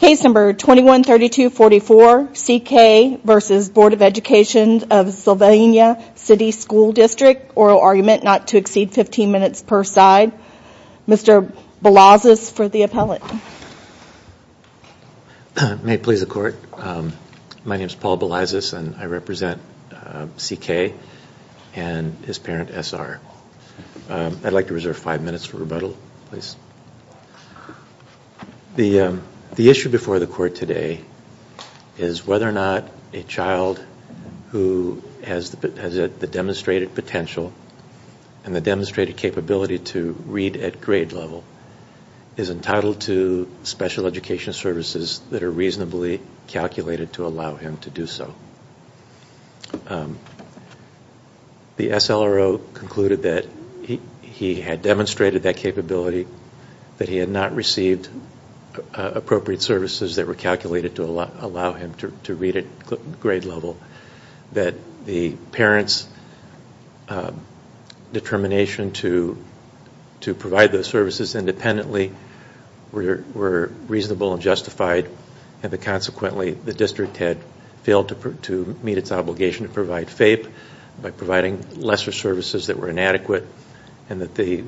Case number 21-32-44 C K v. Bd of Ed Sylvania Cty Schl Dst Oral Argument not to exceed 15 minutes per side. Mr. Balazs for the appellate. May it please the court. My name is Paul Balazs and I represent C K and his The issue before the court today is whether or not a child who has the demonstrated potential and the demonstrated capability to read at grade level is entitled to special education services that are reasonably calculated to allow him to do so. The S L R O concluded that he had demonstrated that capability, that he had not received appropriate services that were calculated to allow him to read at grade level, that the parent's determination to provide those services independently were reasonable and justified and that consequently the district had failed to meet its obligation to provide FAPE by providing lesser services that were inadequate and that the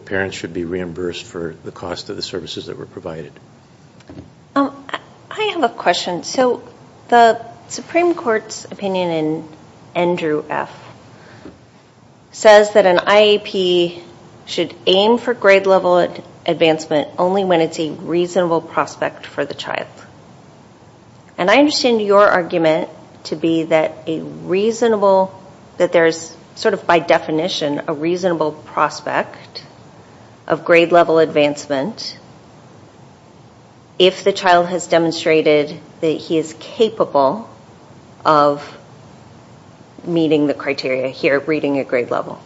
parents should be reimbursed for the cost of the services that were provided. I have a question. So the Supreme Court's opinion in Andrew F says that an IAP should aim for grade level advancement only when it's a reasonable prospect for the recognition, a reasonable prospect of grade level advancement. If the child has demonstrated that he is capable of meeting the criteria here, reading at grade level.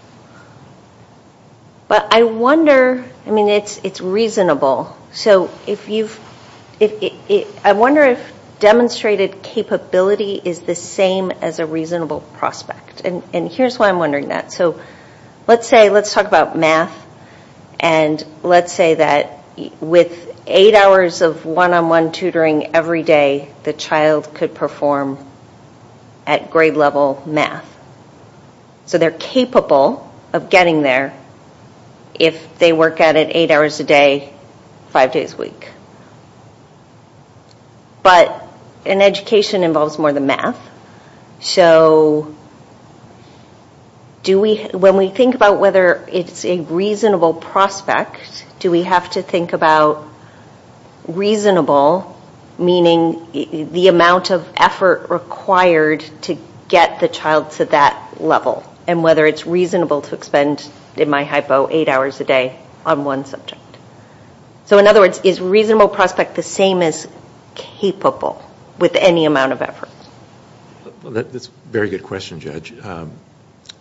But I wonder, I mean, it's, it's reasonable. So if you've, I wonder if demonstrated capability is the Let's say, let's talk about math and let's say that with eight hours of one-on-one tutoring every day, the child could perform at grade level math. So they're capable of getting there if they work at it eight hours a day, five days a week. But an education involves more than math. So do we, when we think about whether it's a reasonable prospect, do we have to think about reasonable, meaning the amount of effort required to get the child to that level and whether it's reasonable to expend, in my hypo, eight hours a day on one subject. So in other words, is reasonable prospect the same as capable with any amount of effort? Well, that's a very good question, Judge.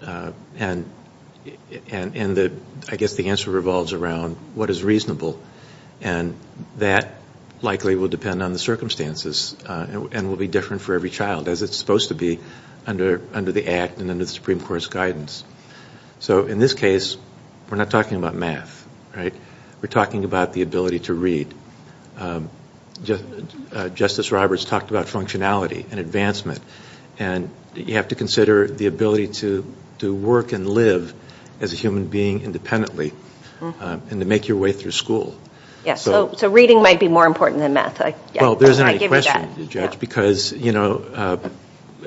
And the, I guess the answer revolves around what is reasonable. And that likely will depend on the circumstances and will be different for every child as it's supposed to be under the Act and under the Supreme Court's guidance. So in this case, we're not talking about math, right? We're talking about the ability to and advancement. And you have to consider the ability to work and live as a human being independently and to make your way through school. Yes, so reading might be more important than math. Well, there's not a question, Judge, because, you know,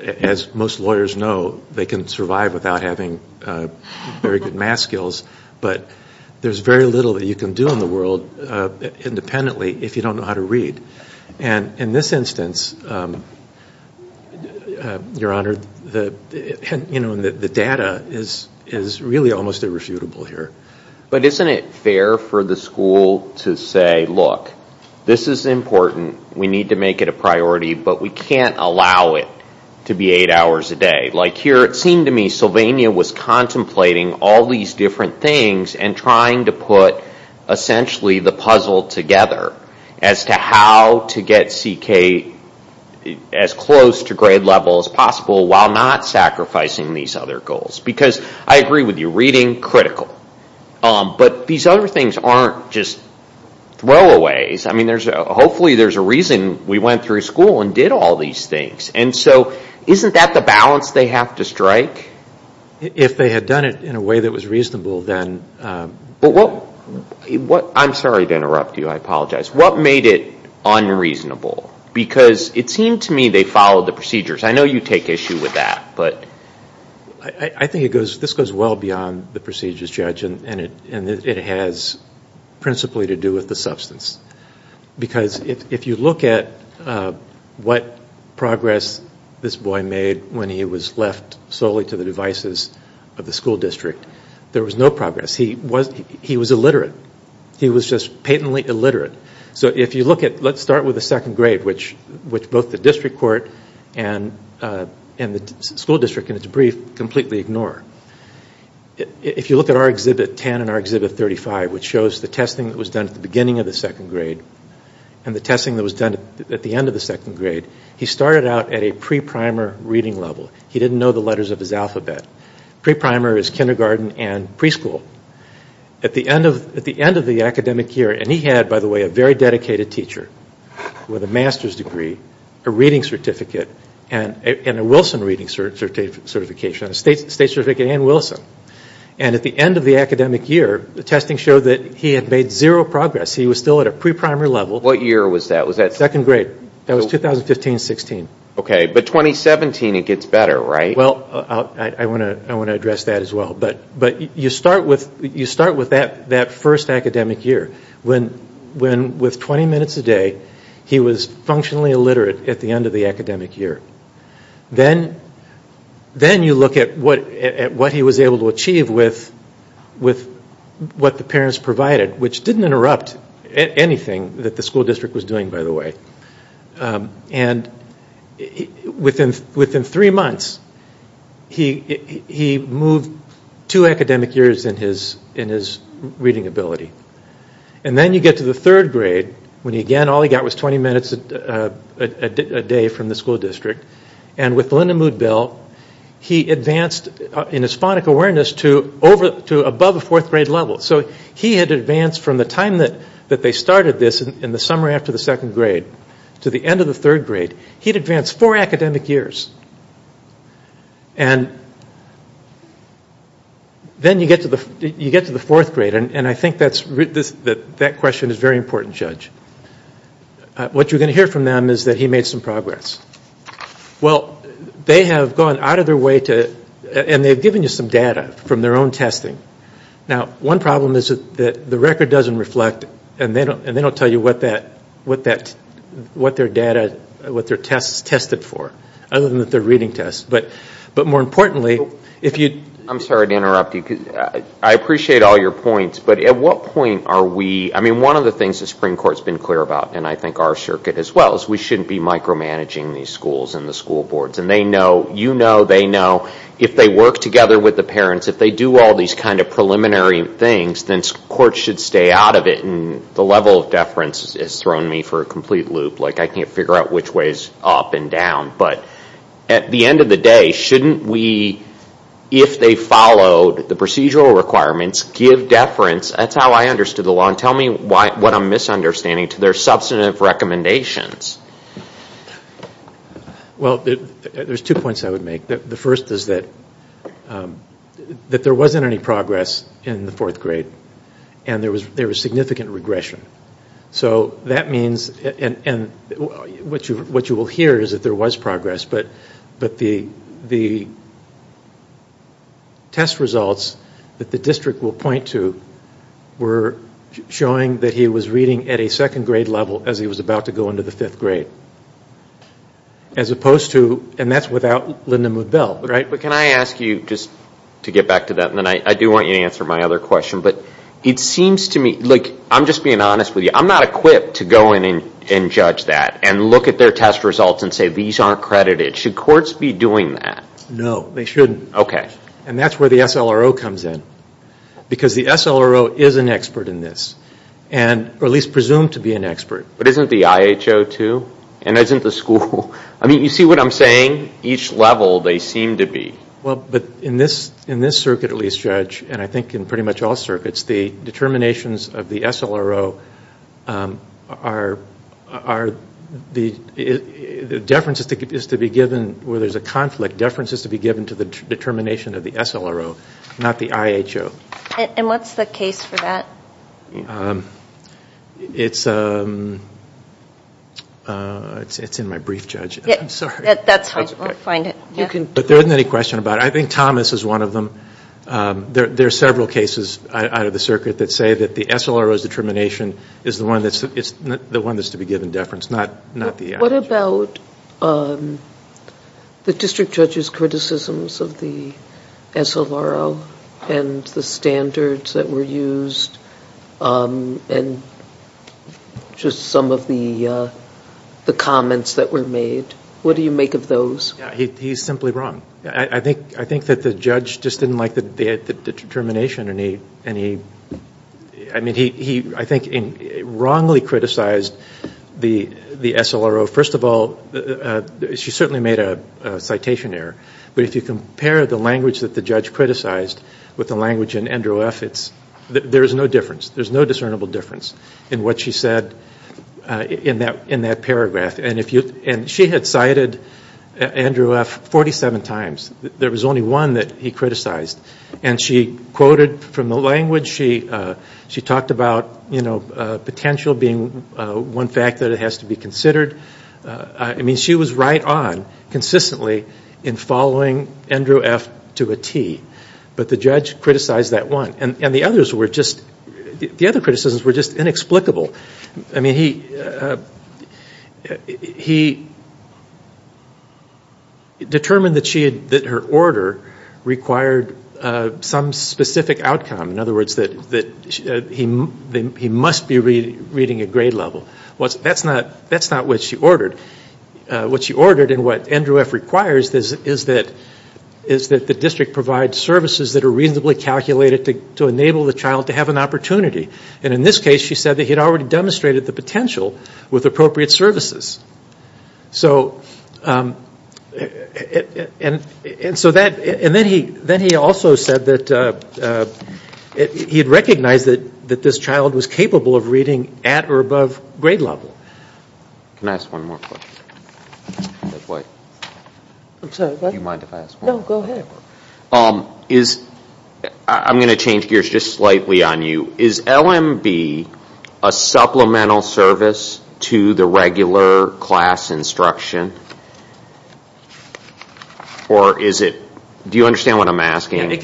as most lawyers know, they can survive without having very good math skills. But there's very little that you can do in the Your Honor, you know, the data is really almost irrefutable here. But isn't it fair for the school to say, look, this is important. We need to make it a priority, but we can't allow it to be eight hours a day. Like here, it seemed to me Sylvania was contemplating all these different things and trying to put essentially the puzzle together as to how to get CK as close to grade level as possible while not sacrificing these other goals. Because I agree with you, reading, critical. But these other things aren't just throwaways. I mean, hopefully there's a reason we went through school and did all these things. And so isn't that the balance they have to strike? If they had done it in a way that was reasonable, then... But what... I'm sorry to interrupt you. I apologize. What made it unreasonable? Because it seemed to me they followed the procedures. I know you take issue with that, but... I think this goes well beyond the procedures, Judge, and it has principally to do with the substance. Because if you look at what progress this boy made when he was left solely to the left, he was illiterate. He was just patently illiterate. So if you look at... Let's start with the second grade, which both the district court and the school district, in its brief, completely ignore. If you look at our Exhibit 10 and our Exhibit 35, which shows the testing that was done at the beginning of the second grade and the testing that was done at the end of the second grade, he started out at a pre-primer reading level. He didn't know the letters of his alphabet. Pre-primer is kindergarten and preschool. At the end of the academic year, and he had, by the way, a very dedicated teacher with a master's degree, a reading certificate, and a Wilson reading certification, a state certificate and Wilson. And at the end of the academic year, the testing showed that he had made zero progress. He was still at a pre-primer level. What year was that? Was that... Second grade. That was 2015-16. Okay. But 2017, it gets better, right? Well, I want to address that as well. But you start with that first academic year when with 20 minutes a day, he was functionally illiterate at the end of the academic year. Then you look at what he was able to achieve with what the parents provided, which didn't interrupt anything that the school district was doing, by the way. And within three months, he moved two academic years in his reading ability. And then you get to the third grade when, again, all he got was 20 minutes a day from the school district. And with Linda Mood-Bell, he advanced in his phonic awareness to above a fourth grade level. So he had advanced from the time that they started this in the summer after the second grade to the end of the third grade. He'd advanced four academic years. And then you get to the fourth grade, and I think that question is very important, Judge. What you're going to hear from them is that he made some progress. Well, they have gone out of their way to... And they've given you some data from their own testing. Now, one problem is that the record doesn't reflect, and they don't tell you, what their data, what their tests tested for, other than that they're reading tests. But more importantly, if you... I'm sorry to interrupt you. I appreciate all your points, but at what point are we... I mean, one of the things the Supreme Court's been clear about, and I think our circuit as well, is we shouldn't be micromanaging these schools and the school boards. And they know, you know, they know, if they work together with the parents, if they do all these kind of preliminary things, then courts should stay out of it. And the level of deference has thrown me for a complete loop. Like, I can't figure out which way is up and down. But at the end of the day, shouldn't we, if they followed the procedural requirements, give deference? That's how I understood the law. And tell me what I'm misunderstanding to their substantive recommendations. Well, there's two points I would make. The first is that there wasn't any progress in the fourth grade. And there was significant regression. So that means, and what you will hear is that there was progress, but the test results that the district will point to were showing that he was reading at a second grade level as he was about to go into the fifth grade. As opposed to, and that's without Linda Mood-Bell, right? But can I ask you, just to get back to that, and then I do want you to answer my other question, but it seems to me, like, I'm just being honest with you. I'm not equipped to go in and judge that and look at their test results and say, these aren't credited. Should courts be doing that? No, they shouldn't. And that's where the SLRO comes in. Because the SLRO is an expert in this. Or at least presumed to be an expert. But isn't the IHO too? And isn't the school? I mean, you see what I'm saying? Each level they seem to be. Well, but in this circuit, at least, Judge, and I think in pretty much all circuits, the determinations of the SLRO are, the deference is to be given, where there's a conflict, deference is to be given to the determination of the SLRO, not the IHO. And what's the case for that? It's in my brief, Judge. I'm sorry. That's fine. We'll find it. But there isn't any question about it. I think Thomas is one of them. There are several cases out of the circuit that say that the SLRO's determination is the one that's to be given deference, not the IHO. What about the District Judge's criticisms of the SLRO and the standards that were used and just some of the comments that were made? What do you make of those? He's simply wrong. I think that the judge just didn't like the determination. I mean, he, I think, wrongly criticized the SLRO. First of all, she certainly made a citation error. But if you compare the language that the judge criticized with the language in which she said, there's no difference. There's no discernible difference in what she said in that paragraph. And she had cited Andrew F. 47 times. There was only one that he criticized. And she quoted from the language. She talked about potential being one fact that it has to be considered. I mean, she was right on consistently in following Andrew F. to a T. But the judge criticized that one. And the others were just, the other criticisms were just inexplicable. I mean, he determined that her order required some specific outcome. In other words, that he must be reading a grade level. That's not what she ordered. What she ordered and what Andrew F. requires is that the district provide services that are reasonably calculated to enable the child to have an opportunity. And in this case, she said that he had already demonstrated the potential with appropriate services. And so that, and then he also said that he had recognized that this child was capable of doing that. I'm going to change gears just slightly on you. Is LMB a supplemental service to the regular class instruction? Or is it, do you understand what I'm asking? It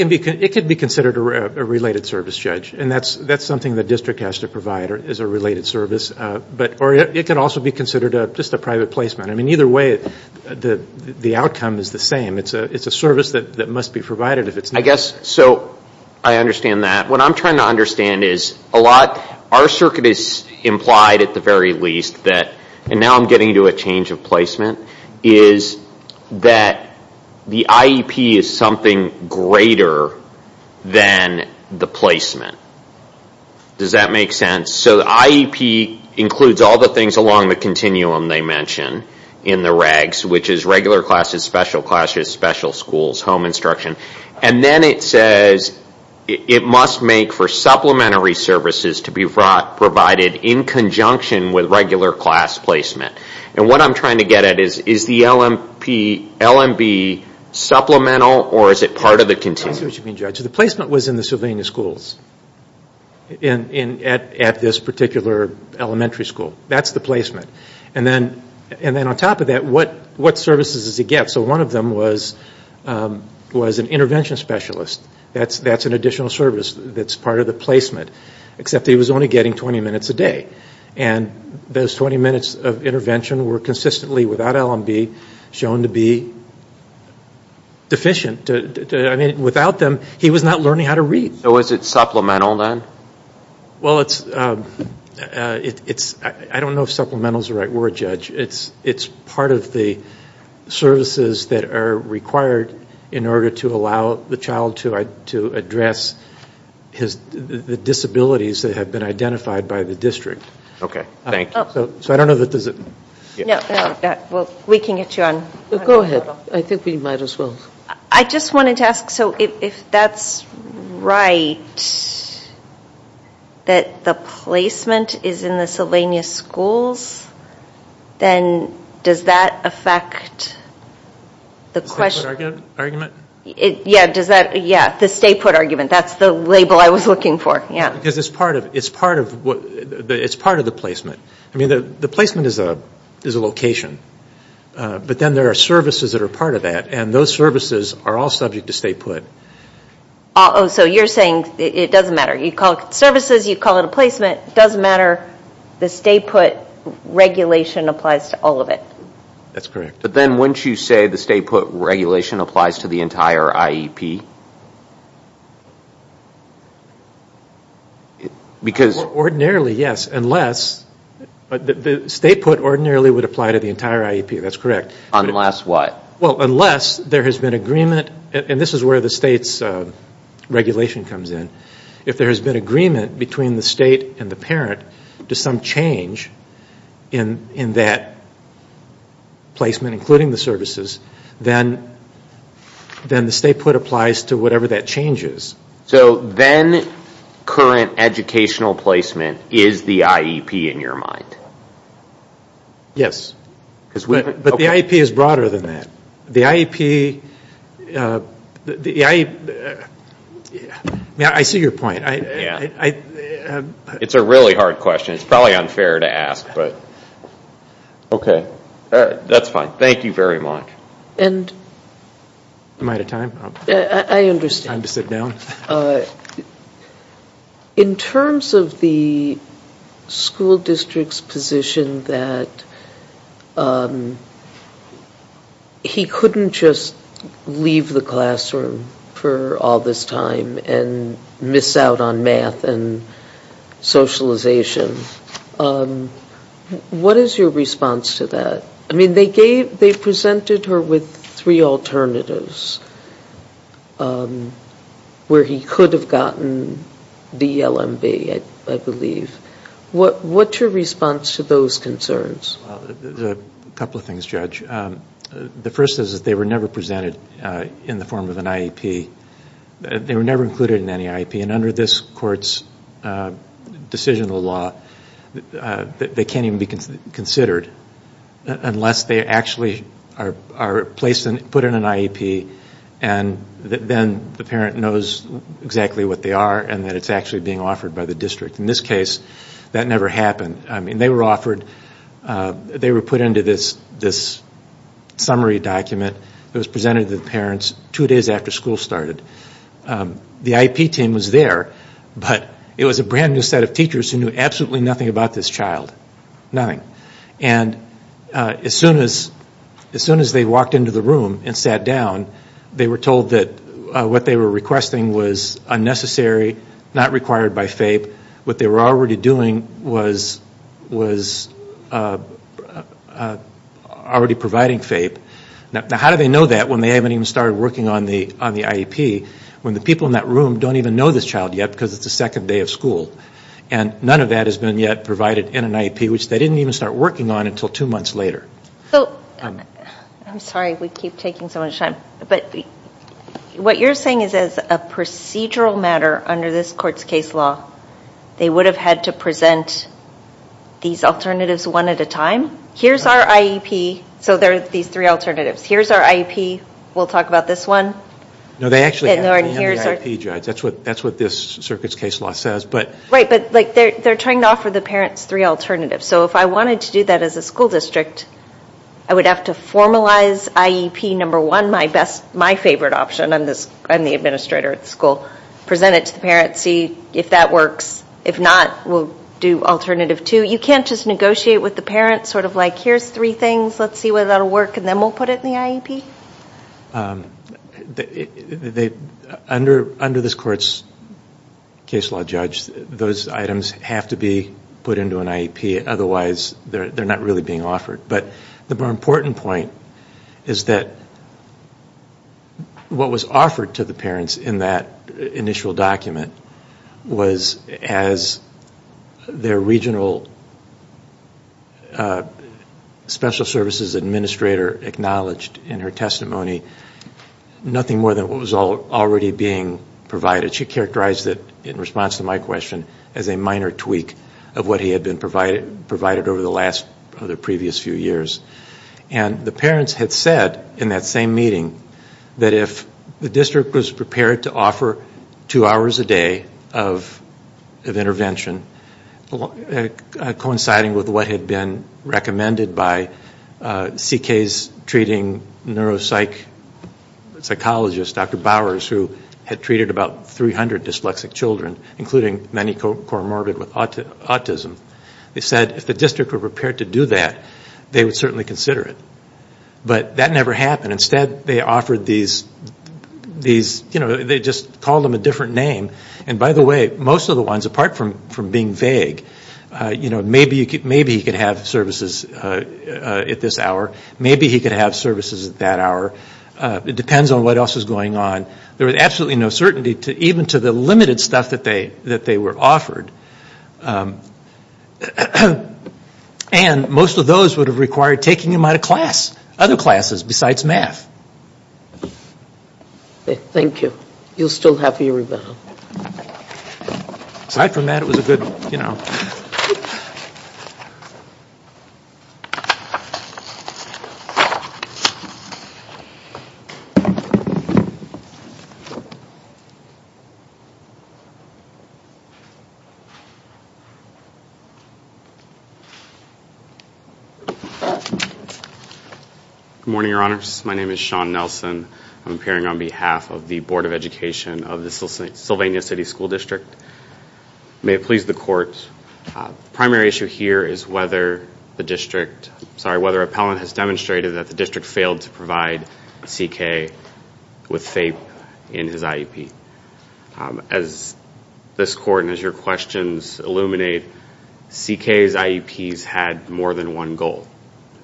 could be considered a related service, Judge. And that's something the district has to provide, is a related service. But, or it can also be considered just a private placement. I mean, either way, the outcome is the same. It's a service that must be provided if it's not. So I understand that. What I'm trying to understand is a lot, our circuit is implied at the very least that, and now I'm getting to a change of placement, is that the IEP is something greater than the placement. Does that make sense? So the IEP includes all the things along the continuum they mention in the regs, which is regular classes, special classes, special schools, home instruction. And then it says it must make for supplementary services to be provided in conjunction with regular class placement. And what I'm trying to get at is, is the LMB supplemental or is it part of the continuum? That's what you mean, Judge. The placement was in the Sylvania schools, at this particular elementary school. That's the placement. And then on top of that, what services does it get? So one of them was an intervention specialist. That's an additional service that's part of the placement. Except it was only getting 20 minutes a day. And those 20 minutes of that LMB shown to be deficient. I mean, without them, he was not learning how to read. So is it supplemental then? Well it's, I don't know if supplemental is the right word, Judge. It's part of the services that are required in order to allow the child to address the disabilities that have been Okay, thank you. So I don't know if it does it. We can get you on. Go ahead. I think we might as well. I just wanted to ask, so if that's right, that the placement is in the Sylvania schools, then does that affect the question? The stay put argument? Yeah, the stay put argument. That's the label I was looking for. Because it's part of the placement. I mean, the placement is a location. But then there are services that are part of that. And those services are all subject to stay put. So you're saying it doesn't matter. You call it services. You call it a placement. It doesn't matter. The stay put regulation applies to all of it. That's correct. But then wouldn't you say the stay put regulation applies to the entire IEP? Ordinarily, yes. Unless, the stay put ordinarily would apply to the entire IEP. That's correct. Unless what? Well, unless there has been agreement, and this is where the state's regulation comes in. If there has been agreement between the state and the parent to some change in that placement including the services, then the stay put applies to whatever that change is. So then, current educational placement is the IEP in your mind? Yes. But the IEP is broader than that. The IEP, I see your point. It's a really hard question. It's probably unfair to ask. Okay. That's fine. Thank you very much. Am I out of time? I understand. Time to sit down. In terms of the school district's position that he couldn't just leave the classroom for all this time and miss out on math and socialization, what is your response to that? I mean, they presented her with three alternatives where he could have gotten DLMB, I believe. What's your response to those concerns? Well, a couple of things, Judge. The first is that they were never presented in the form of an IEP. They were never included in any IEP. And under this Court's decisional law, they can't even be considered unless they actually are put in an IEP and then the parent knows exactly what they are and that it's actually being offered by the district. In this case, that never happened. I mean, they were offered, they were put into this summary document that was presented to the parents two days after school started. The IEP team was there, but it was a brand new set of teachers who knew absolutely nothing about this child. Nothing. And as soon as they walked into the room and sat down, they were told that what they were requesting was unnecessary, not required by FAPE. What they were already doing was already providing FAPE. Now, how do they know that when they haven't even started working on the IEP, when the people in that room don't even know this child yet because it's the second day of school? And none of that has been yet provided in an IEP, which they didn't even start working on until two months later. So, I'm sorry we keep taking so much time, but what you're saying is as a procedural matter under this Court's case law, they would have had to present these alternatives one at a time? Here's our IEP, so there are these three alternatives. Here's our IEP, we'll talk about this one. No, they actually have to have the IEP judge. That's what this Circuit's case law says. Right, but they're trying to offer the parents three alternatives. So if I wanted to do that as a school district, I would have to formalize IEP number one, my favorite option. I'm the administrator at the school. Present it to the parents, see if that works. If not, we'll do alternative two. You can't just negotiate with the parents, sort of like, here's three things, let's see whether that will work, and then we'll put it in the IEP? Under this Court's case law judge, those items have to be put into an IEP. Otherwise, they're not really being offered. But the more important point is that what was offered to the parents in that initial document was, as their regional special services administrator acknowledged in her testimony, nothing more than what was already being provided. She characterized it, in response to my question, as a minor tweak of what he had been provided over the last previous few years. And the parents had said, in that same meeting, that if the district was prepared to offer two hours a day of intervention, coinciding with what had been recommended by CK's treating neuropsychologist, Dr. Bowers, who had treated about 300 dyslexic children, including many co-morbid with autism. They said, if the district were prepared to do that, they would certainly consider it. But that never happened. Instead, they offered these, you know, they just called them a different name. And by the way, most of the ones, apart from being vague, you know, maybe he could have services at this hour. Maybe he could have services at that hour. It depends on what else is going on. There was absolutely no certainty, even to the limited stuff that they were offered. And most of those would have required taking him out of class, other classes besides math. Thank you. You'll still have your rebuttal. Good morning, Your Honors. My name is Sean Nelson. I'm appearing on behalf of the Board of Education of the Sylvania City School District. May it please the Court, the primary issue here is whether the district, sorry, whether appellant has demonstrated that the district failed to provide CK with FAPE in his IEP. As this Court and as your questions illuminate, CK's IEPs had more than one goal.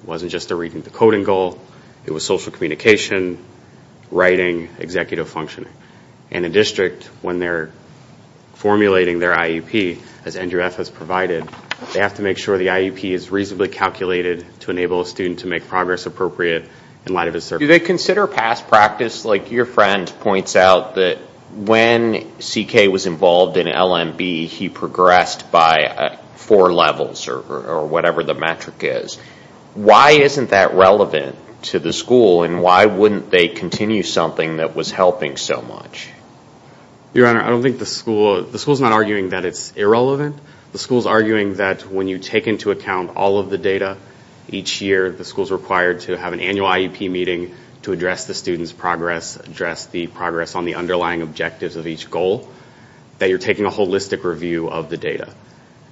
It wasn't just a reading to coding goal. It was social communication, writing, executive functioning. And a district, when they're formulating their IEP, as Andrew F. has provided, they have to make sure the IEP is reasonably calculated to enable a student to make progress appropriate in light of his circumstances. Do they consider past practice, like your friend points out, that when CK was involved in LMB, he progressed by four levels or whatever the metric is. Why isn't that relevant to the school and why wouldn't they continue something that was helping so much? Your Honor, I don't think the school, the school's not arguing that it's irrelevant. The school's arguing that when you take into account all of the data each year, the school's required to have an annual IEP meeting to address the student's progress, address the progress on the underlying objectives of each goal, that you're taking a holistic review of the data.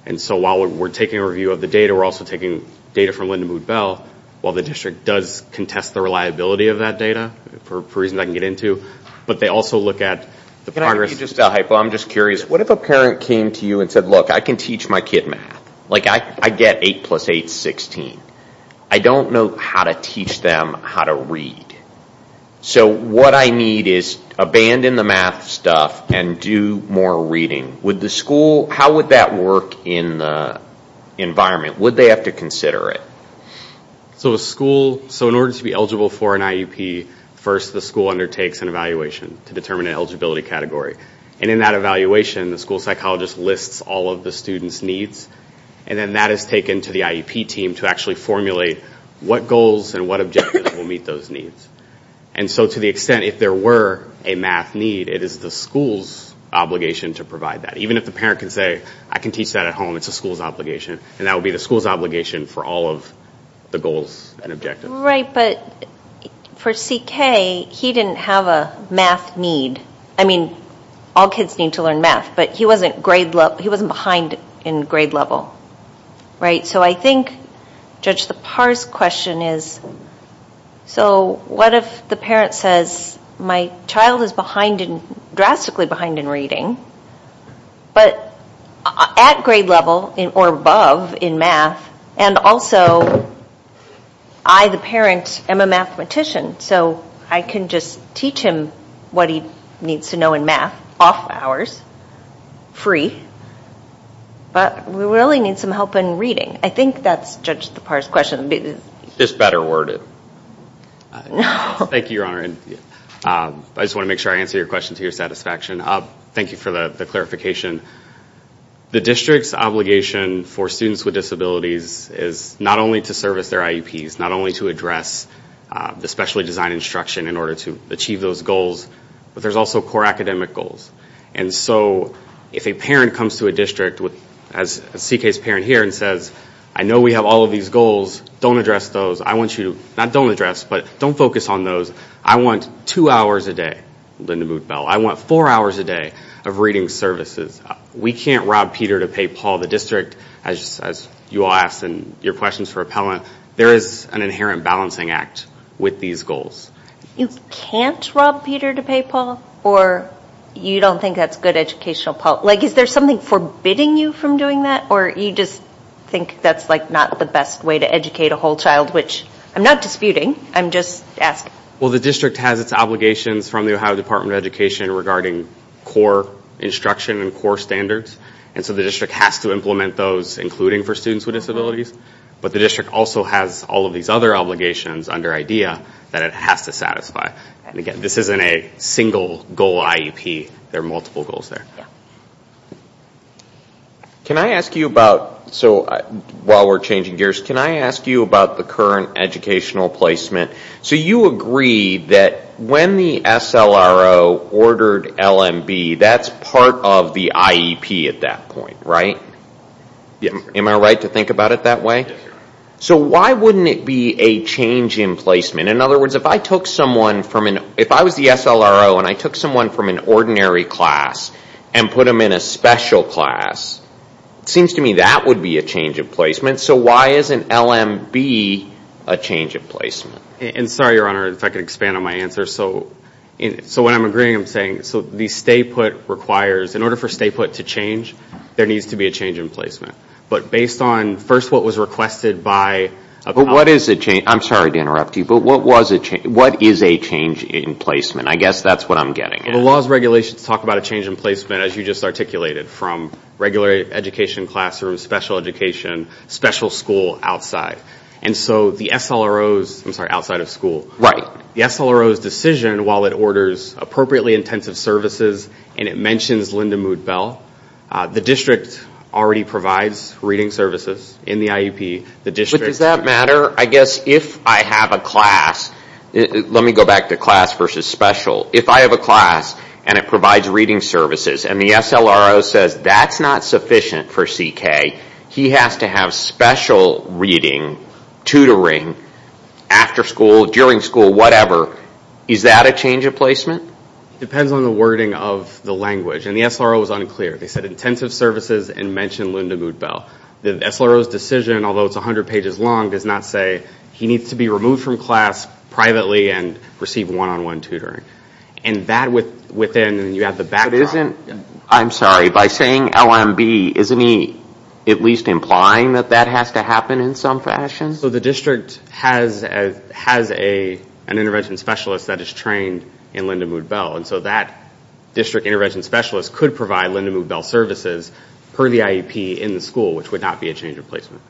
And so while we're taking a review of the data, we're also taking data from Linda Mood-Bell while the district does contest the reliability of that data, for reasons I can get into, but they also look at the progress. Can I just get a hypo? I'm just curious. What if a parent came to you and said, look, I can teach my kid math. Like, I get 8 plus 8 is 16. I don't know how to teach them how to read. So what I need is abandon the math stuff and do more reading. Would the school, how would that work in the environment? Would they have to consider it? So a school, so in order to be eligible for an IEP, first the school undertakes an evaluation to determine an eligibility category. And in that evaluation, the school psychologist lists all of the student's needs, and then that is taken to the IEP team to actually formulate what goals and what objectives will meet those needs. And so to the extent if there were a math need, it is the school's obligation to provide that. Even if the parent can say, I can teach that at home, it is the school's obligation. And that would be the school's obligation for all of the goals and objectives. Right, but for CK, he didn't have a math need. I mean, all kids need to learn math, but he wasn't grade level, he wasn't behind in grade level. Right? So I think Judge Lepar's question is, so what if the parent says, my child is behind, drastically behind in reading, but at grade level or above in math, and also I, the parent, am a mathematician, so I can just teach him what he needs to know in math, off hours, free, but we really need some help in reading. I think that's Judge Lepar's question. It's better worded. Thank you, Your Honor. I just want to make sure I answer your question to your satisfaction. Thank you for the clarification. The district's obligation for students with disabilities is not only to service their IEPs, not only to address the specially designed instruction in order to achieve those goals, but there's also core academic goals. And so if a parent comes to a district, as CK's parent here, and says, I know we have all of these goals, don't address those. I want you to, not don't address, but don't focus on those. I want two hours a day, Linda Moot-Bell, I want four hours a day of reading services. We can't rob Peter to pay Paul. The district, as you all asked in your questions for appellant, there is an inherent balancing act with these goals. You can't rob Peter to pay Paul? Or you don't think that's good educational policy? Is there something forbidding you from doing that? Or you just think that's not the best way to educate a whole child, which I'm not disputing, I'm just asking. Well, the district has its obligations from the Ohio Department of Education regarding core instruction and core standards. And so the district has to implement those, including for students with disabilities. But the district also has all of these other obligations under IDEA that it has to satisfy. And again, this isn't a single goal IEP, there are multiple goals there. Can I ask you about, while we're changing gears, can I ask you about the current educational placement? So you agree that when the SLRO ordered LMB, that's part of the IEP at that point, right? Am I right to think about it that way? So why wouldn't it be a change in placement? In other words, if I took someone from an, if I was the SLRO and I took someone from an ordinary class and put them in a special class, it seems to me that would be a change in placement. So why isn't LMB a change in placement? And sorry, Your Honor, if I could expand on my answer. So when I'm agreeing, I'm saying, so the stay put requires, in order for stay put to change, there needs to be a change in placement. But based on, first, what was requested by... What is a change, I'm sorry to interrupt you, but what is a change in placement? I guess that's what I'm getting at. The laws and regulations talk about a change in placement, as you just articulated, from regular education classrooms, special education, special school, outside. And so the SLRO's, I'm sorry, outside of school, the SLRO's decision while it orders appropriately intensive services and it mentions LMB, the district already provides reading services in the IEP, the district... But does that matter? I guess if I have a class, let me go back to class versus special. If I have a class and it provides reading services and the SLRO says that's not sufficient for CK, he has to have special reading, tutoring, after school, during school, whatever, is that a change in placement? Depends on the wording of the language. And the SLRO was unclear. They said intensive services and mentioned LMB. The SLRO's decision, although it's 100 pages long, does not say he needs to be removed from class privately and receive one-on-one tutoring. And that within, you have the backdrop... But isn't, I'm sorry, by saying LMB, isn't he at least implying that that has to happen in some fashion? So the district has an intervention specialist that is trained in Linda Mood-Bell. And so that district intervention specialist could provide Linda Mood-Bell services per the IEP in the school, which would not be a change in placement.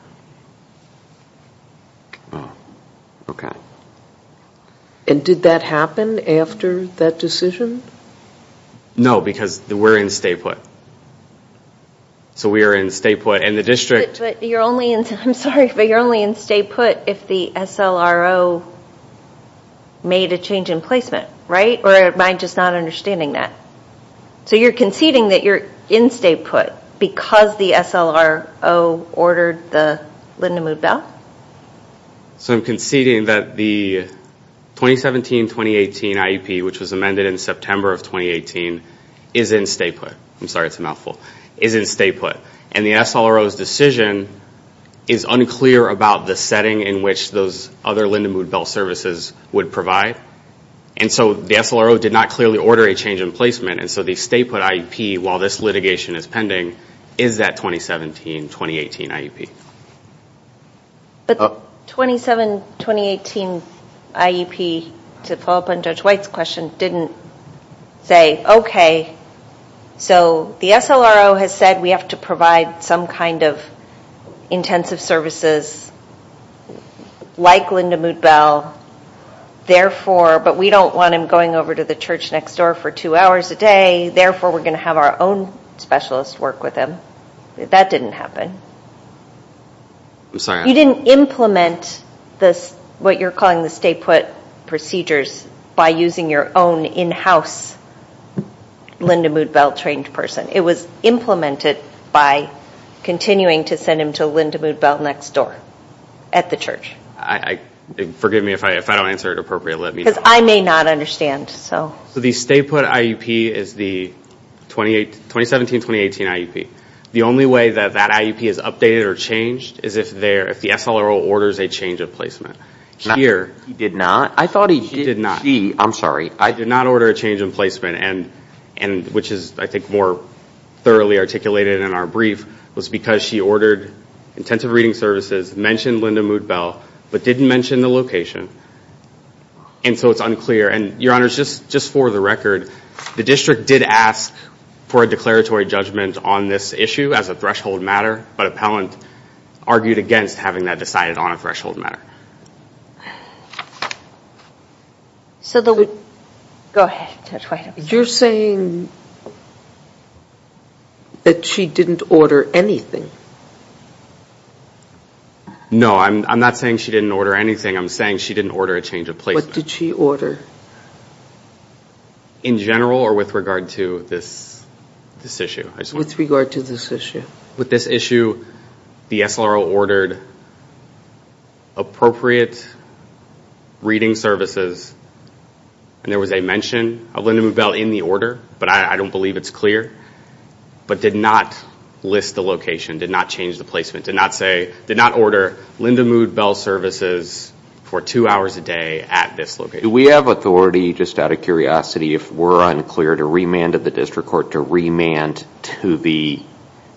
And did that happen after that decision? No, because we're in stay put. So we are in stay put and the district... But you're only in stay put if the SLRO made a change in placement, right? Or am I just not understanding that? So you're conceding that you're in stay put because the SLRO ordered the Linda Mood-Bell? So I'm conceding that the 2017-2018 IEP, which was amended in September of 2018, is in stay put. I'm sorry, it's a mouthful. Is in stay put. And the SLRO's decision is unclear about the setting in which those other Linda Mood-Bell services would provide. And so the SLRO did not clearly order a change in placement. And so the stay put IEP, while this litigation is pending, is that 2017-2018 IEP. But the 2017-2018 IEP, to follow up on Judge White's question, didn't say, okay, so the SLRO has said we have to provide some kind of intensive services like Linda Mood-Bell. Therefore, but we don't want him going over to the church next door for two hours a day. Therefore, we're going to have our own specialist work with him. That didn't happen. You didn't implement what you're calling the stay put procedures by using your own in-house Linda Mood-Bell trained person. It was implemented by continuing to send him to Linda Mood-Bell next door at the church. I, forgive me if I don't answer it appropriately. Because I may not understand, so. So the stay put IEP is the 2017-2018 IEP. The only way that that IEP is updated or changed is if the SLRO orders a change of placement. He did not. I thought he did. He did not. She, I'm sorry. I did not order a change in placement. And which is, I think, more thoroughly articulated in our brief was because she ordered intensive reading services, mentioned Linda Mood-Bell, but didn't mention the location. And so it's unclear. And your honors, just for the record, the district did ask for a declaratory judgment on this issue as a threshold matter, but appellant argued against having that decided on a threshold matter. So the, go ahead Judge Whitehouse. You're saying that she didn't order anything. No, I'm not saying she didn't order anything. I'm saying she didn't order a change of placement. What did she order? In general or with regard to this issue? With regard to this issue. With this issue, the SLRO ordered appropriate reading services and there was a mention of Linda Mood-Bell in the order, but I don't believe it's clear, but did not list the location, did not change the placement, did not say, did not order Linda Mood-Bell services for two hours a day at this location. Do we have authority, just out of curiosity, if we're unclear, to remand to the district court, to remand to the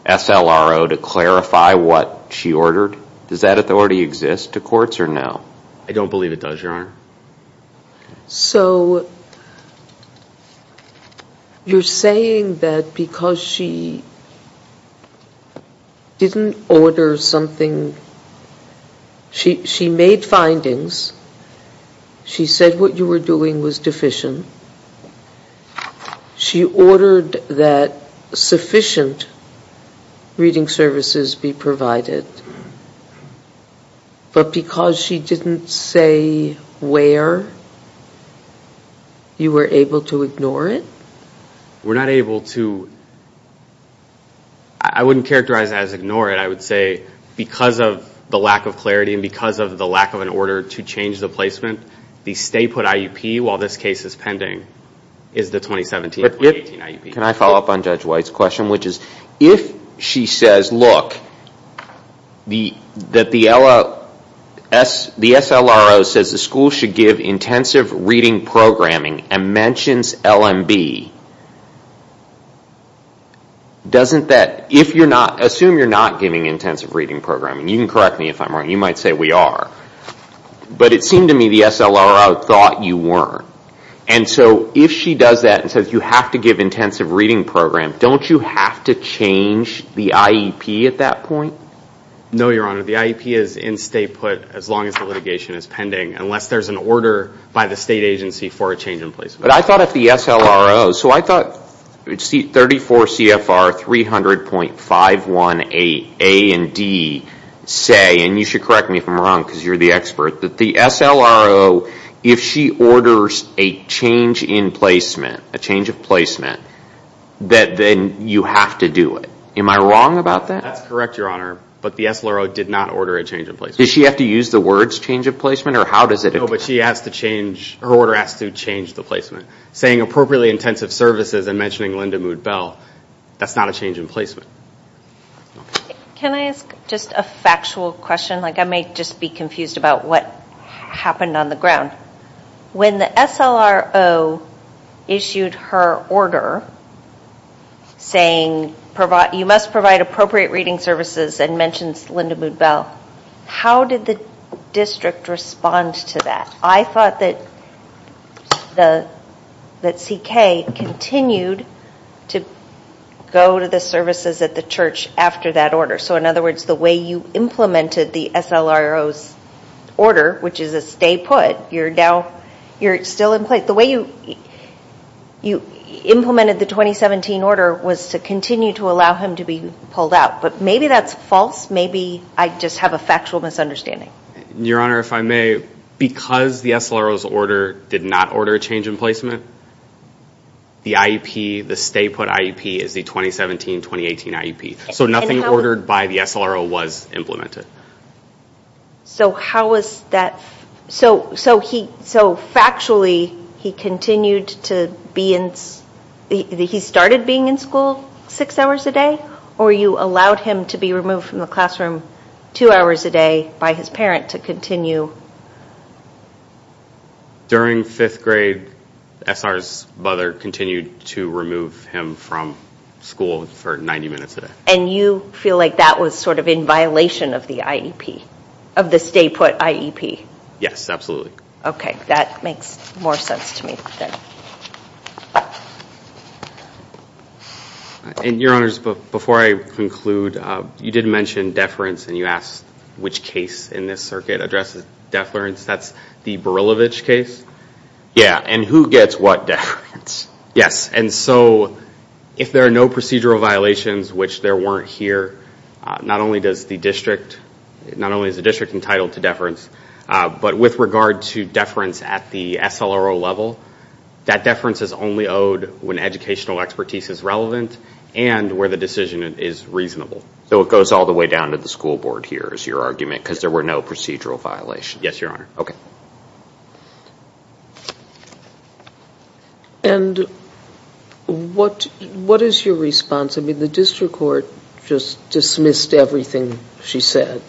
SLRO to clarify what she ordered? Does that authority exist to courts or no? I don't believe it does, your honor. So, you're saying that because she didn't order something, she made findings, she said what you were doing was deficient, she ordered that sufficient reading services be provided, but because she didn't say where, you were able to ignore it? We're not able to, I wouldn't characterize it as ignore it, I would say because of the lack of clarity and because of the lack of an order to change the placement, the stay put IUP while this case is pending is the 2017-2018 IUP. Can I follow up on Judge White's question, which is, if she says, look, the SLRO says the school should give intensive reading programming and mentions LMB, assume you're not giving intensive reading programming, you can correct me if I'm wrong, you might say we are, but it seemed to me the SLRO thought you weren't, and so if she does that and says you have to give intensive reading program, don't you have to change the IEP at that point? No your honor, the IEP is in stay put as long as the litigation is pending, unless there's an order by the state agency for a change in placement. But I thought if the SLRO, so I thought 34 CFR 300.518 A and D say, and you should correct me if I'm wrong because you're the expert, that the SLRO, if she orders a change in placement, a change of placement, that then you have to do it. Am I wrong about that? That's correct your honor, but the SLRO did not order a change in placement. Does she have to use the words change of placement or how does it occur? No, but she has to change, her order has to change the placement. Saying appropriately intensive services and mentioning LMB, that's not a change in placement. Can I ask just a factual question, like I may just be confused about what happened on the ground. When the SLRO issued her order saying you must provide appropriate reading services and mentions Linda Mood-Bell, how did the district respond to that? I thought that CK continued to go to the services at the church after that order, so in other words, you're now, you're still in place. The way you implemented the 2017 order was to continue to allow him to be pulled out, but maybe that's false, maybe I just have a factual misunderstanding. Your honor, if I may, because the SLRO's order did not order a change in placement, the IEP, the stay put IEP is the 2017-2018 IEP, so nothing ordered by the SLRO was implemented. So, how was that, so he, so factually he continued to be in, he started being in school six hours a day, or you allowed him to be removed from the classroom two hours a day by his parent to continue? During fifth grade, SR's mother continued to remove him from school for 90 minutes a day. And you feel like that was sort of in violation of the IEP, of the stay put IEP? Yes, absolutely. Okay, that makes more sense to me. And your honors, before I conclude, you did mention deference and you asked which case in this circuit addresses deference, that's the Barilovich case? Yeah, and who gets what deference? Yes, and so if there are no procedural violations, which there weren't here, not only does the district, not only is the district entitled to deference, but with regard to deference at the SLRO level, that deference is only owed when educational expertise is relevant and where the decision is reasonable. So it goes all the way down to the school board here is your argument, because there were no procedural violations? Yes, your honor. Okay. And what is your response? I mean, the district court just dismissed everything she said.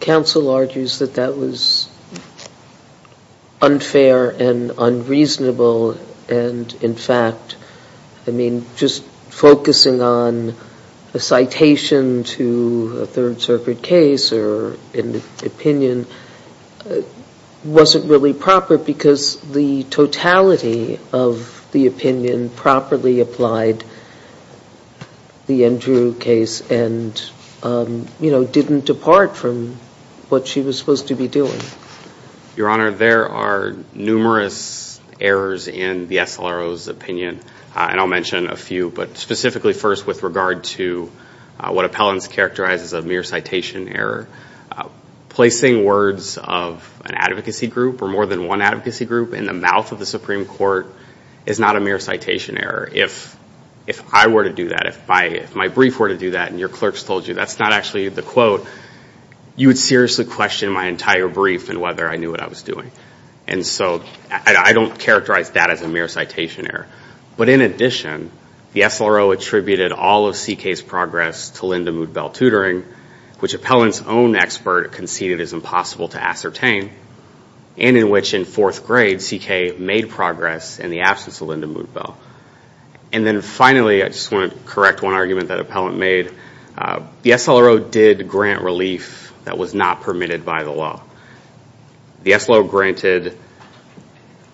Counsel argues that that was unfair and unreasonable and in fact, I mean, just focusing on a citation to a third circuit case or an opinion wasn't really proper because the totality of the opinion properly applied the Andrew case and, you know, didn't depart from what she was supposed to be doing. Your honor, there are numerous errors in the SLRO's opinion and I'll mention a few, but Appellant's characterized as a mere citation error. Placing words of an advocacy group or more than one advocacy group in the mouth of the Supreme Court is not a mere citation error. If I were to do that, if my brief were to do that and your clerks told you that's not actually the quote, you would seriously question my entire brief and whether I knew what I was doing. And so I don't characterize that as a mere citation error. But in addition, the SLRO attributed all of CK's progress to Linda Mood-Bell tutoring, which Appellant's own expert conceded is impossible to ascertain, and in which in fourth grade CK made progress in the absence of Linda Mood-Bell. And then finally, I just want to correct one argument that Appellant made. The SLRO did grant relief that was not permitted by the law. The SLRO granted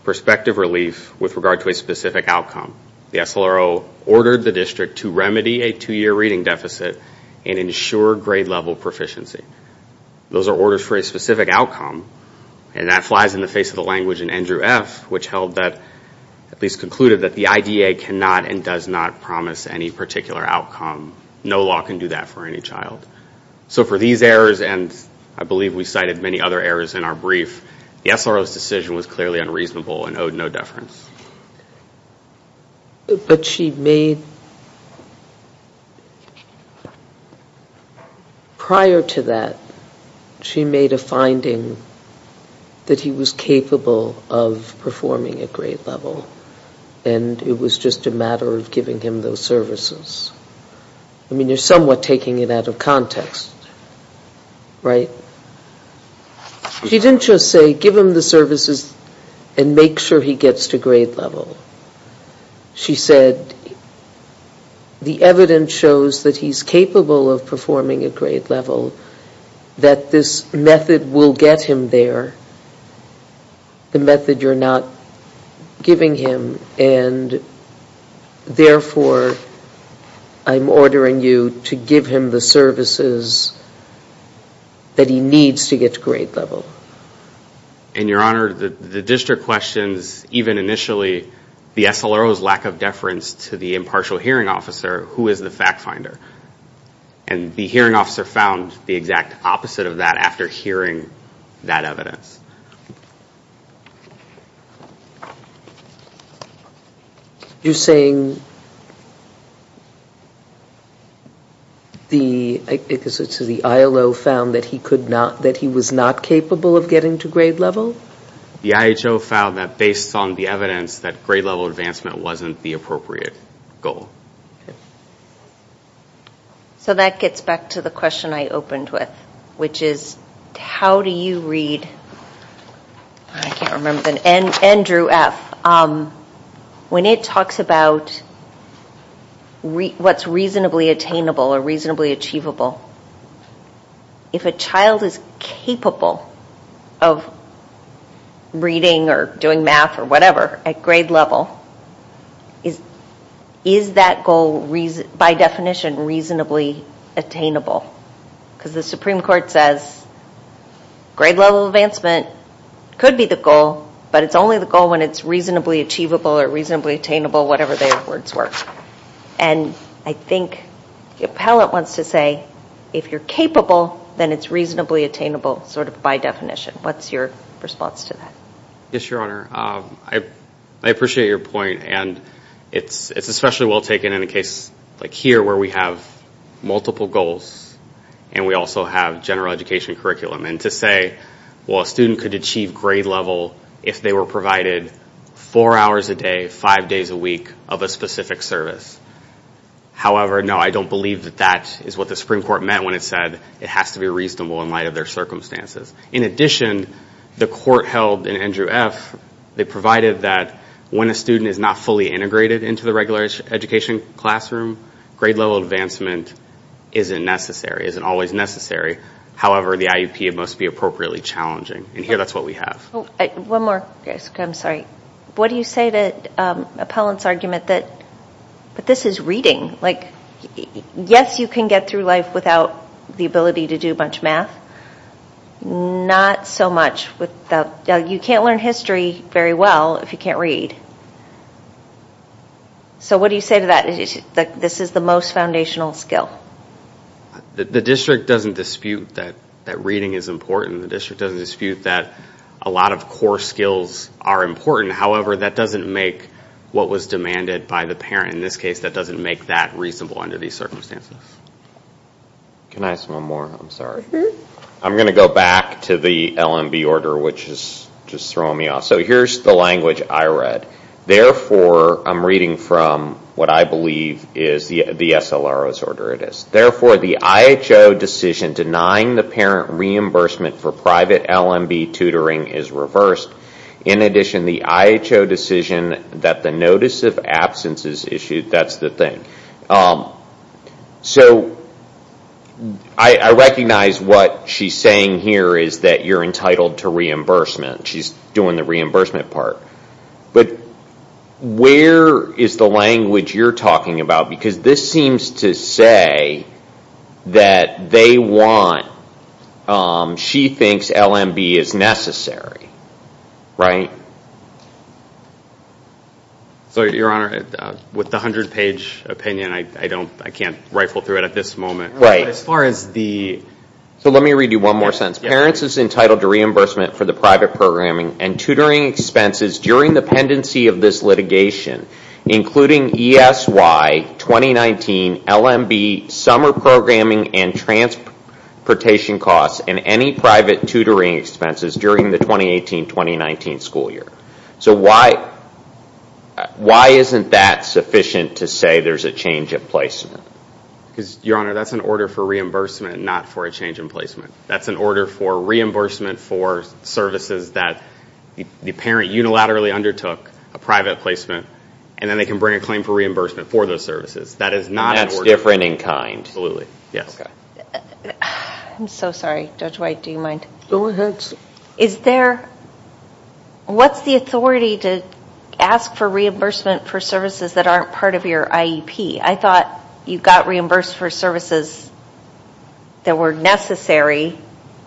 perspective relief with regard to a specific outcome. The SLRO ordered the district to remedy a two-year reading deficit and ensure grade level proficiency. Those are orders for a specific outcome and that flies in the face of the language in Andrew F., which held that, at least concluded that the IDA cannot and does not promise any particular outcome. No law can do that for any child. So for these errors, and I believe we cited many other errors in our brief, the SLRO's decision was clearly unreasonable and owed no deference. But she made, prior to that, she made a finding that he was capable of performing at grade level and it was just a matter of giving him those services. I mean, you're somewhat taking it out of context, right? She didn't just say, give him the services and make sure he gets to grade level. She said, the evidence shows that he's capable of performing at grade level, that this method will get him there, the method you're not giving him, and therefore, I'm ordering you to give him the services that he needs to get to grade level. And Your Honor, the district questions, even initially, the SLRO's lack of deference to the impartial hearing officer, who is the fact finder? And the hearing officer found the exact opposite of that after hearing that evidence. You're saying the ILO found that he was not capable of getting to grade level? The IHO found that based on the evidence, that grade level advancement wasn't the appropriate goal. So that gets back to the question I opened with, which is, how do you read, I can't remember, Andrew F., when it talks about what's reasonably attainable or reasonably achievable, if a child is capable of reading or doing math or whatever at grade level, is that goal by definition reasonably attainable? Because the Supreme Court says, grade level advancement could be the goal, but it's only the goal when it's reasonably achievable or reasonably attainable, whatever their words were. And I think the appellate wants to say, if you're capable, then it's reasonably attainable sort of by definition. What's your response to that? Yes, Your Honor. I appreciate your point, and it's especially well taken in a case like here where we have multiple goals and we also have general education curriculum. And to say, well, a student could achieve grade level if they were provided four hours a day, five days a week of a specific service. However, no, I don't believe that that is what the Supreme Court meant when it said it has to be reasonable in light of their circumstances. In addition, the court held in Andrew F., they provided that when a student is not fully integrated into the regular education classroom, grade level advancement isn't necessary, isn't always necessary. However, the IUP, it must be appropriately challenging. And here, that's what we have. One more. I'm sorry. What do you say to Appellant's argument that this is reading? Like, yes, you can get through life without the ability to do a bunch of math. Not so much. You can't learn history very well if you can't read. So what do you say to that? This is the most foundational skill. The district doesn't dispute that reading is important. The district doesn't dispute that a lot of core skills are important. However, that doesn't make what was demanded by the parent. In this case, that doesn't make that reasonable under these circumstances. Can I ask one more? I'm sorry. I'm going to go back to the LMB order, which is just throwing me off. So here's the language I read. Therefore, I'm reading from what I believe is the SLRO's order it is. Therefore, the IHO decision denying the parent reimbursement for private LMB tutoring is reversed. In addition, the IHO decision that the notice of absence is issued. That's the thing. So I recognize what she's saying here is that you're entitled to reimbursement. She's doing the reimbursement part. But where is the language you're talking about? Because this seems to say that she thinks LMB is necessary. Right? Your Honor, with the 100-page opinion, I can't rifle through it at this moment. Let me read you one more sentence. Parents is entitled to reimbursement for the private programming and tutoring expenses during the pendency of this litigation, including ESY, 2019, LMB, summer programming and transportation costs, and any private tutoring expenses during the 2018-2019 school year. So why isn't that sufficient to say there's a change in placement? Your Honor, that's an order for reimbursement, not for a change in placement. That's an order for reimbursement for services that the parent unilaterally undertook, a private placement, and then they can bring a claim for reimbursement for those services. That is not an order. That's different in kind. Absolutely. Yes. I'm so sorry. Judge White, do you mind? Go ahead. What's the authority to ask for reimbursement for services that aren't part of your IEP? I thought you got reimbursed for services that were necessary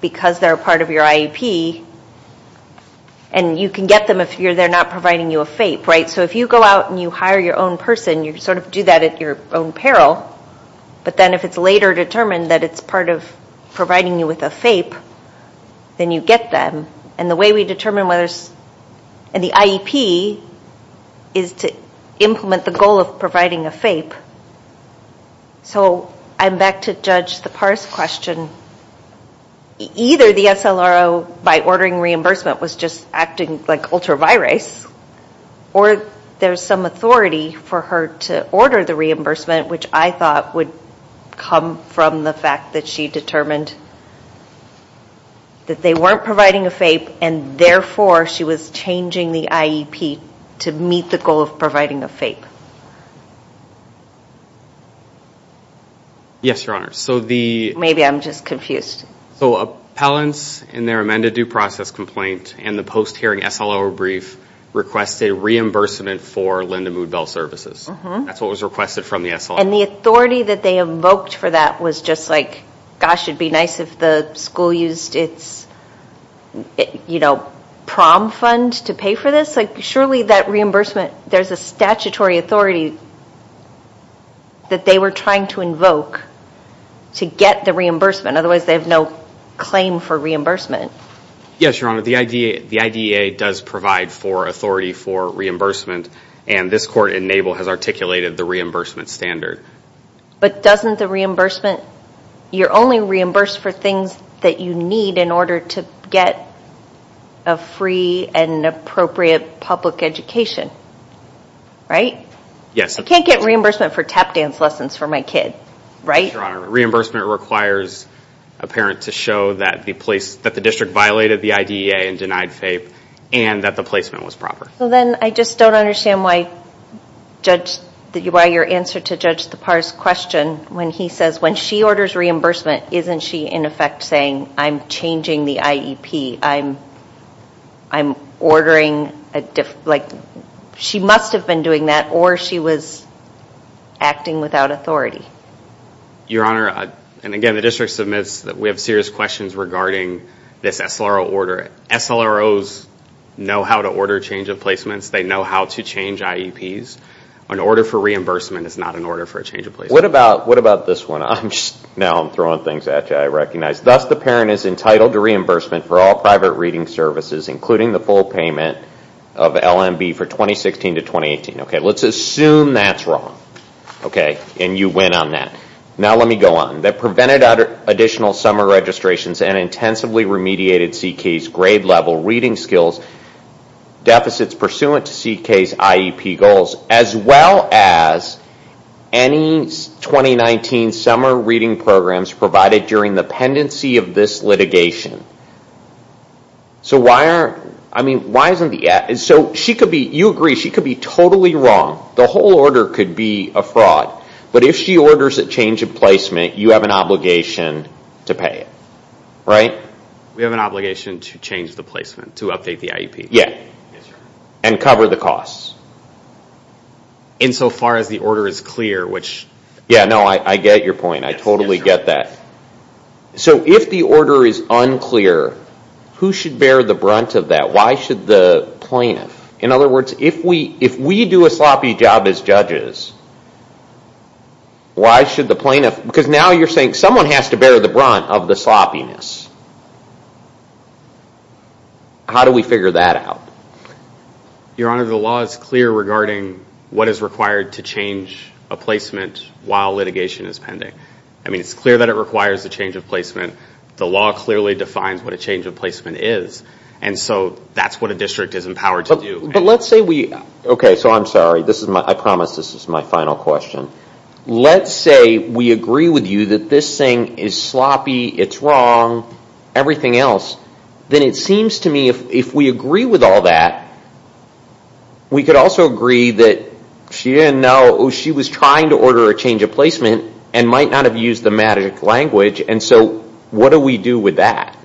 because they're part of your IEP, and you can get them if they're not providing you a FAPE, right? So if you go out and you hire your own person, you sort of do that at your own peril, but then if it's later determined that it's part of providing you with a FAPE, then you get them. And the way we determine whether it's in the IEP is to implement the goal of providing a FAPE. So I'm back to Judge Sipar's question. Either the SLRO, by ordering reimbursement, was just acting like ultra-virus, or there's some authority for her to order the reimbursement, which I thought would come from the fact that she determined that they weren't providing a FAPE, and therefore she was changing the IEP to meet the goal of providing a FAPE. Yes, Your Honor. Maybe I'm just confused. So appellants in their amended due process complaint and the post-hearing SLRO brief requested reimbursement for Linda Mood-Bell services. That's what was requested from the SLRO. And the authority that they invoked for that was just like, gosh, it would be nice if the school used its prom fund to pay for this. Surely that reimbursement, there's a statutory authority that they were trying to invoke to get the reimbursement. Otherwise, they have no claim for reimbursement. Yes, Your Honor. The IDEA does provide for authority for reimbursement, and this court in Nable has articulated the reimbursement standard. But doesn't the reimbursement, you're only reimbursed for things that you need in order to get a free and appropriate public education, right? Yes. I can't get reimbursement for tap dance lessons for my kid, right? No, Your Honor. Reimbursement requires a parent to show that the district violated the IDEA and denied FAPE and that the placement was proper. So then I just don't understand why your answer to Judge Thapar's question when he says, when she orders reimbursement, isn't she in effect saying, I'm changing the IEP? I'm ordering, like, she must have been doing that or she was acting without authority. Your Honor, and again, the district submits that we have serious questions regarding this SLRO order. SLROs know how to order change of placements. They know how to change IEPs. An order for reimbursement is not an order for a change of placement. What about this one? Now I'm throwing things at you, I recognize. Thus, the parent is entitled to reimbursement for all private reading services, including the full payment of LMB for 2016 to 2018. Okay, let's assume that's wrong, okay, and you win on that. Now let me go on. That prevented additional summer registrations and intensively remediated CK's grade-level reading skills deficits pursuant to CK's IEP goals, as well as any 2019 summer reading programs provided during the pendency of this litigation. So why aren't, I mean, why isn't the, so she could be, you agree, she could be totally wrong. The whole order could be a fraud. But if she orders a change of placement, you have an obligation to pay it, right? We have an obligation to change the placement, to update the IEP. And cover the costs. Insofar as the order is clear, which... Yeah, no, I get your point. I totally get that. So if the order is unclear, who should bear the brunt of that? Why should the plaintiff? In other words, if we do a sloppy job as judges, why should the plaintiff, because now you're saying someone has to bear the brunt of the sloppiness. How do we figure that out? Your Honor, the law is clear regarding what is required to change a placement while litigation is pending. I mean, it's clear that it requires a change of placement. The law clearly defines what a change of placement is. And so that's what a district is empowered to do. But let's say we, okay, so I'm sorry. This is my, I promise this is my final question. Let's say we agree with you that this thing is sloppy, it's wrong, everything else, then it seems to me if we agree with all that, we could also agree that she didn't know, she was trying to order a change of placement and might not have used the magic language. And so what do we do with that?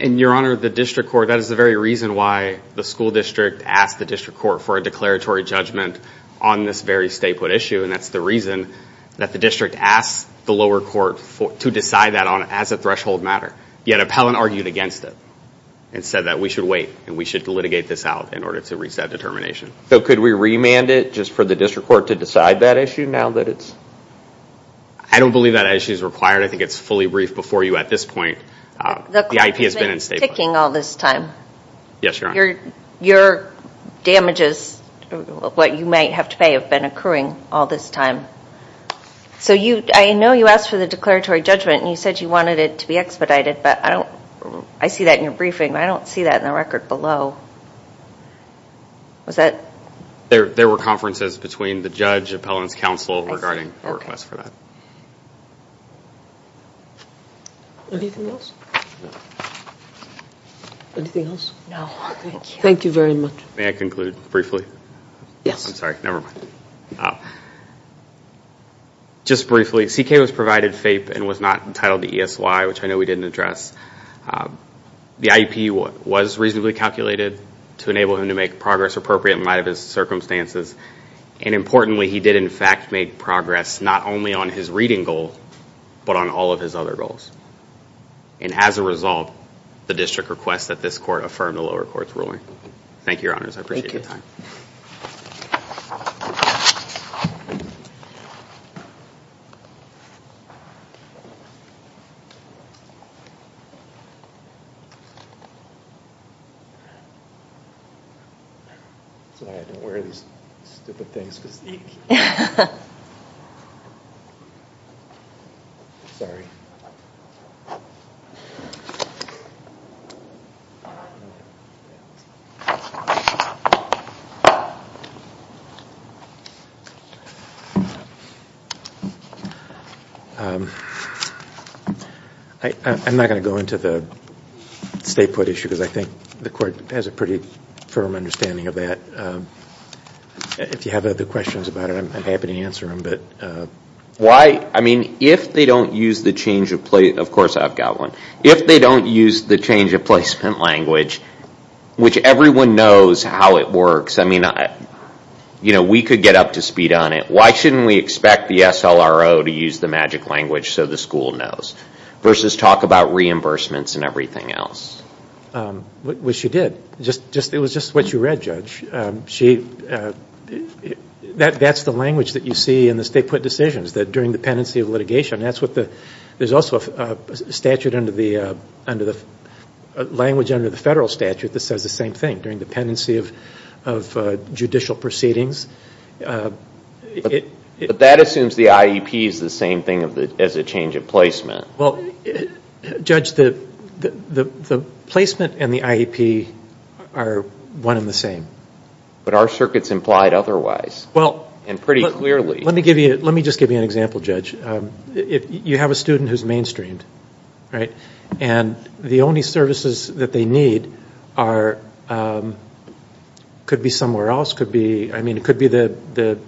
And, Your Honor, the district court, that is the very reason why the school district asked the district court for a declaratory judgment on this very staple issue. And that's the reason that the district asked the lower court to decide that on it as a threshold matter. Yet Appellant argued against it and said that we should wait and we should litigate this out in order to reach that determination. So could we remand it just for the district court to decide that issue now that it's? I don't believe that issue is required. I think it's fully briefed before you at this point. The IP has been unstable. The court has been ticking all this time. Yes, Your Honor. Your damages, what you might have to pay, have been occurring all this time. So I know you asked for the declaratory judgment and you said you wanted it to be expedited. But I see that in your briefing, but I don't see that in the record below. Was that? There were conferences between the judge, Appellant's counsel regarding our request for that. Anything else? No, thank you. Thank you very much. May I conclude briefly? Yes. I'm sorry, never mind. Just briefly, CK was provided FAPE and was not entitled to ESY, which I know we didn't address. The IEP was reasonably calculated to enable him to make progress appropriate in light of his circumstances. And importantly, he did in fact make progress not only on his reading goal, but on all of his other goals. And as a result, the district requests that this court affirm the lower court's ruling. Thank you, Your Honors. I appreciate your time. Thank you. Thank you. I'm not going to go into the stay put issue, because I think the court has a pretty firm understanding of that. If you have other questions about it, I'm happy to answer them. Why, I mean, if they don't use the change of, of course I've got one, if they don't use the change of placement language, which everyone knows how it works, I mean, you know, we could get up to speed on it. Why shouldn't we expect the SLRO to use the magic language so the school knows, versus talk about reimbursements and everything else? Which you did. It was just what you read, Judge. That's the language that you see in the stay put decisions, that during the pendency of litigation, that's what the, there's also a statute under the, under the, language under the federal statute that says the same thing, during the pendency of judicial proceedings. But that assumes the IEP is the same thing as a change of placement. Well, Judge, the placement and the IEP are one and the same. But our circuit's implied otherwise. Well. And pretty clearly. Let me give you, let me just give you an example, Judge. If you have a student who's mainstreamed, right, and the only services that they need are, could be somewhere else, could be, I mean, it could be the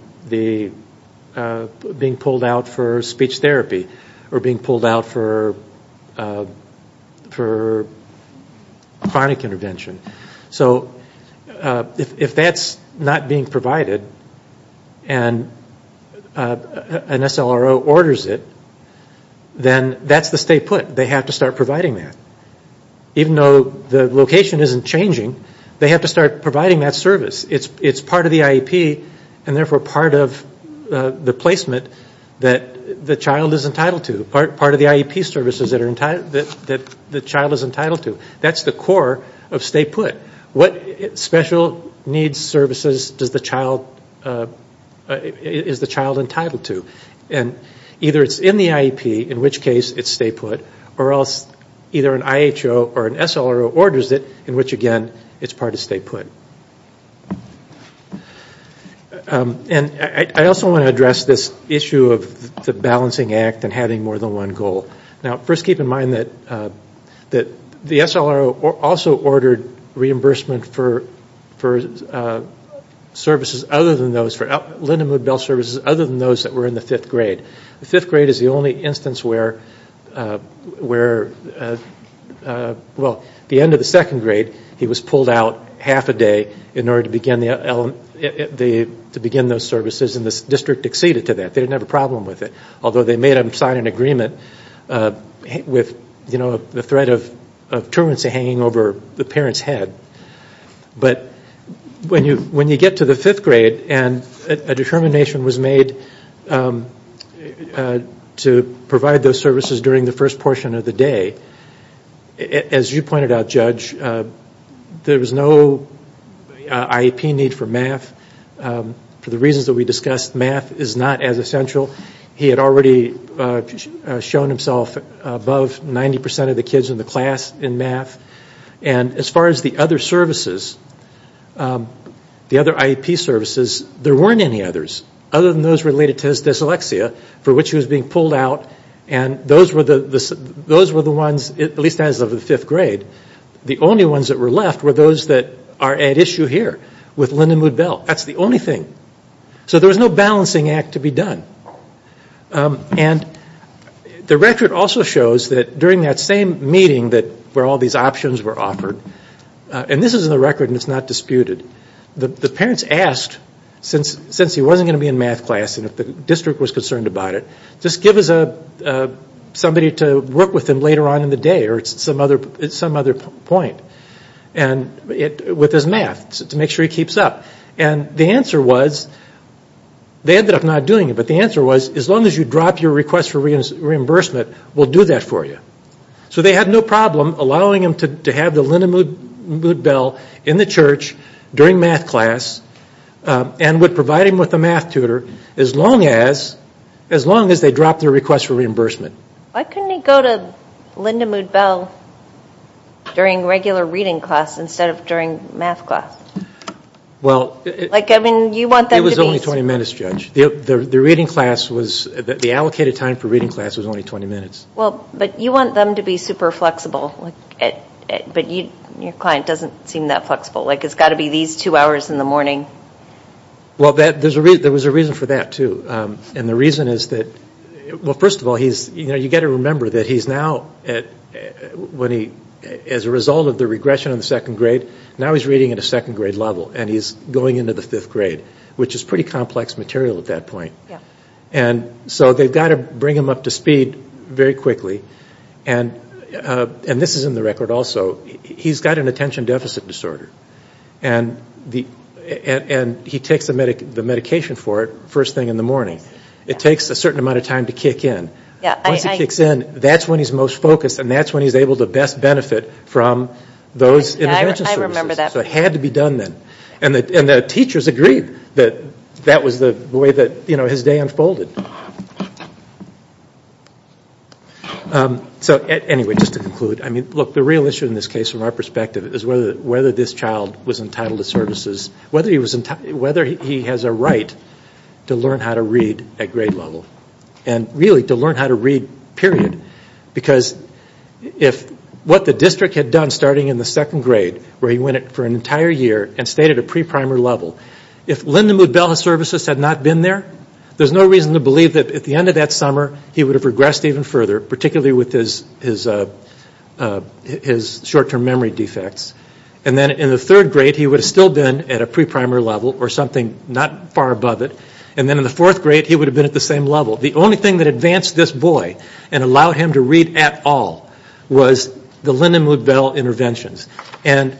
being pulled out for speech therapy or being pulled out for chronic intervention. So if that's not being provided and an SLRO orders it, then that's the stay put. They have to start providing that. Even though the location isn't changing, they have to start providing that service. It's part of the IEP and therefore part of the placement that the child is entitled to, part of the IEP services that are entitled, that the child is entitled to. That's the core of stay put. What special needs services does the child, is the child entitled to? And either it's in the IEP, in which case it's stay put, or else either an IHO or an SLRO orders it, in which, again, it's part of stay put. And I also want to address this issue of the balancing act and having more than one goal. Now, first keep in mind that the SLRO also ordered reimbursement for services other than those, for Lindenwood Bell services other than those that were in the fifth grade. The fifth grade is the only instance where, well, the end of the second grade, he was pulled out half a day in order to begin those services, and the district acceded to that. They didn't have a problem with it, although they may have signed an agreement with, you know, the threat of tourancy hanging over the parent's head. But when you get to the fifth grade and a determination was made to provide those services during the first portion of the day, as you pointed out, Judge, there was no IEP need for math. For the reasons that we discussed, math is not as essential. He had already shown himself above 90 percent of the kids in the class in math. And as far as the other services, the other IEP services, there weren't any others, other than those related to dyslexia, for which he was being pulled out. And those were the ones, at least as of the fifth grade, the only ones that were left were those that are at issue here with Lindenwood Bell. That's the only thing. So there was no balancing act to be done. And the record also shows that during that same meeting where all these options were offered, and this is in the record and it's not disputed, the parents asked, since he wasn't going to be in math class and the district was concerned about it, just give us somebody to work with him later on in the day or at some other point with his math to make sure he keeps up. And the answer was, they ended up not doing it, but the answer was as long as you drop your request for reimbursement, we'll do that for you. So they had no problem allowing him to have the Lindenwood Bell in the church during math class and would provide him with a math tutor as long as they dropped their request for reimbursement. Why couldn't he go to Lindenwood Bell during regular reading class instead of during math class? Well, it was only 20 minutes, Judge. The allocated time for reading class was only 20 minutes. Well, but you want them to be super flexible, but your client doesn't seem that flexible. Like it's got to be these two hours in the morning. Well, there was a reason for that, too. And the reason is that, well, first of all, you've got to remember that he's now, as a result of the regression in the second grade, now he's reading at a second grade level and he's going into the fifth grade, which is pretty complex material at that point. And so they've got to bring him up to speed very quickly. And this is in the record also. He's got an attention deficit disorder. And he takes the medication for it first thing in the morning. It takes a certain amount of time to kick in. Once he kicks in, that's when he's most focused and that's when he's able to best benefit from those intervention services. So it had to be done then. And the teachers agreed that that was the way that his day unfolded. So, anyway, just to conclude. I mean, look, the real issue in this case, from our perspective, is whether this child was entitled to services, whether he has a right to learn how to read at grade level. And really, to learn how to read, period. Because if what the district had done, starting in the second grade, where he went for an entire year and stayed at a pre-primary level, if Lyndon Mood-Bell services had not been there, there's no reason to believe that at the end of that summer, he would have regressed even further, particularly with his short-term memory defects. And then in the third grade, he would have still been at a pre-primary level or something not far above it. And then in the fourth grade, he would have been at the same level. The only thing that advanced this boy and allowed him to read at all was the Lyndon Mood-Bell interventions. And,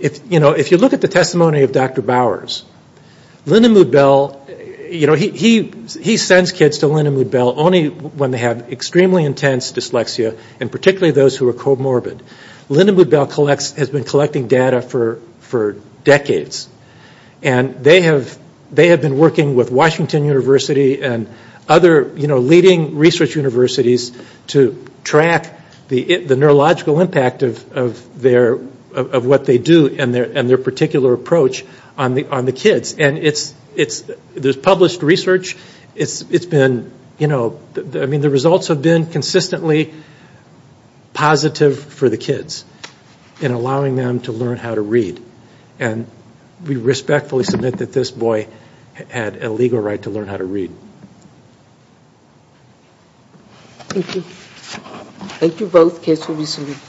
you know, if you look at the testimony of Dr. Bowers, Lyndon Mood-Bell, you know, he sends kids to Lyndon Mood-Bell only when they have extremely intense dyslexia, and particularly those who are comorbid. Lyndon Mood-Bell has been collecting data for decades. And they have been working with Washington University and other, you know, leading research universities to track the neurological impact of what they do and their particular approach on the kids. And there's published research. It's been, you know, I mean, the results have been consistently positive for the kids in allowing them to learn how to read. And we respectfully submit that this boy had a legal right to learn how to read. Thank you. Thank you both.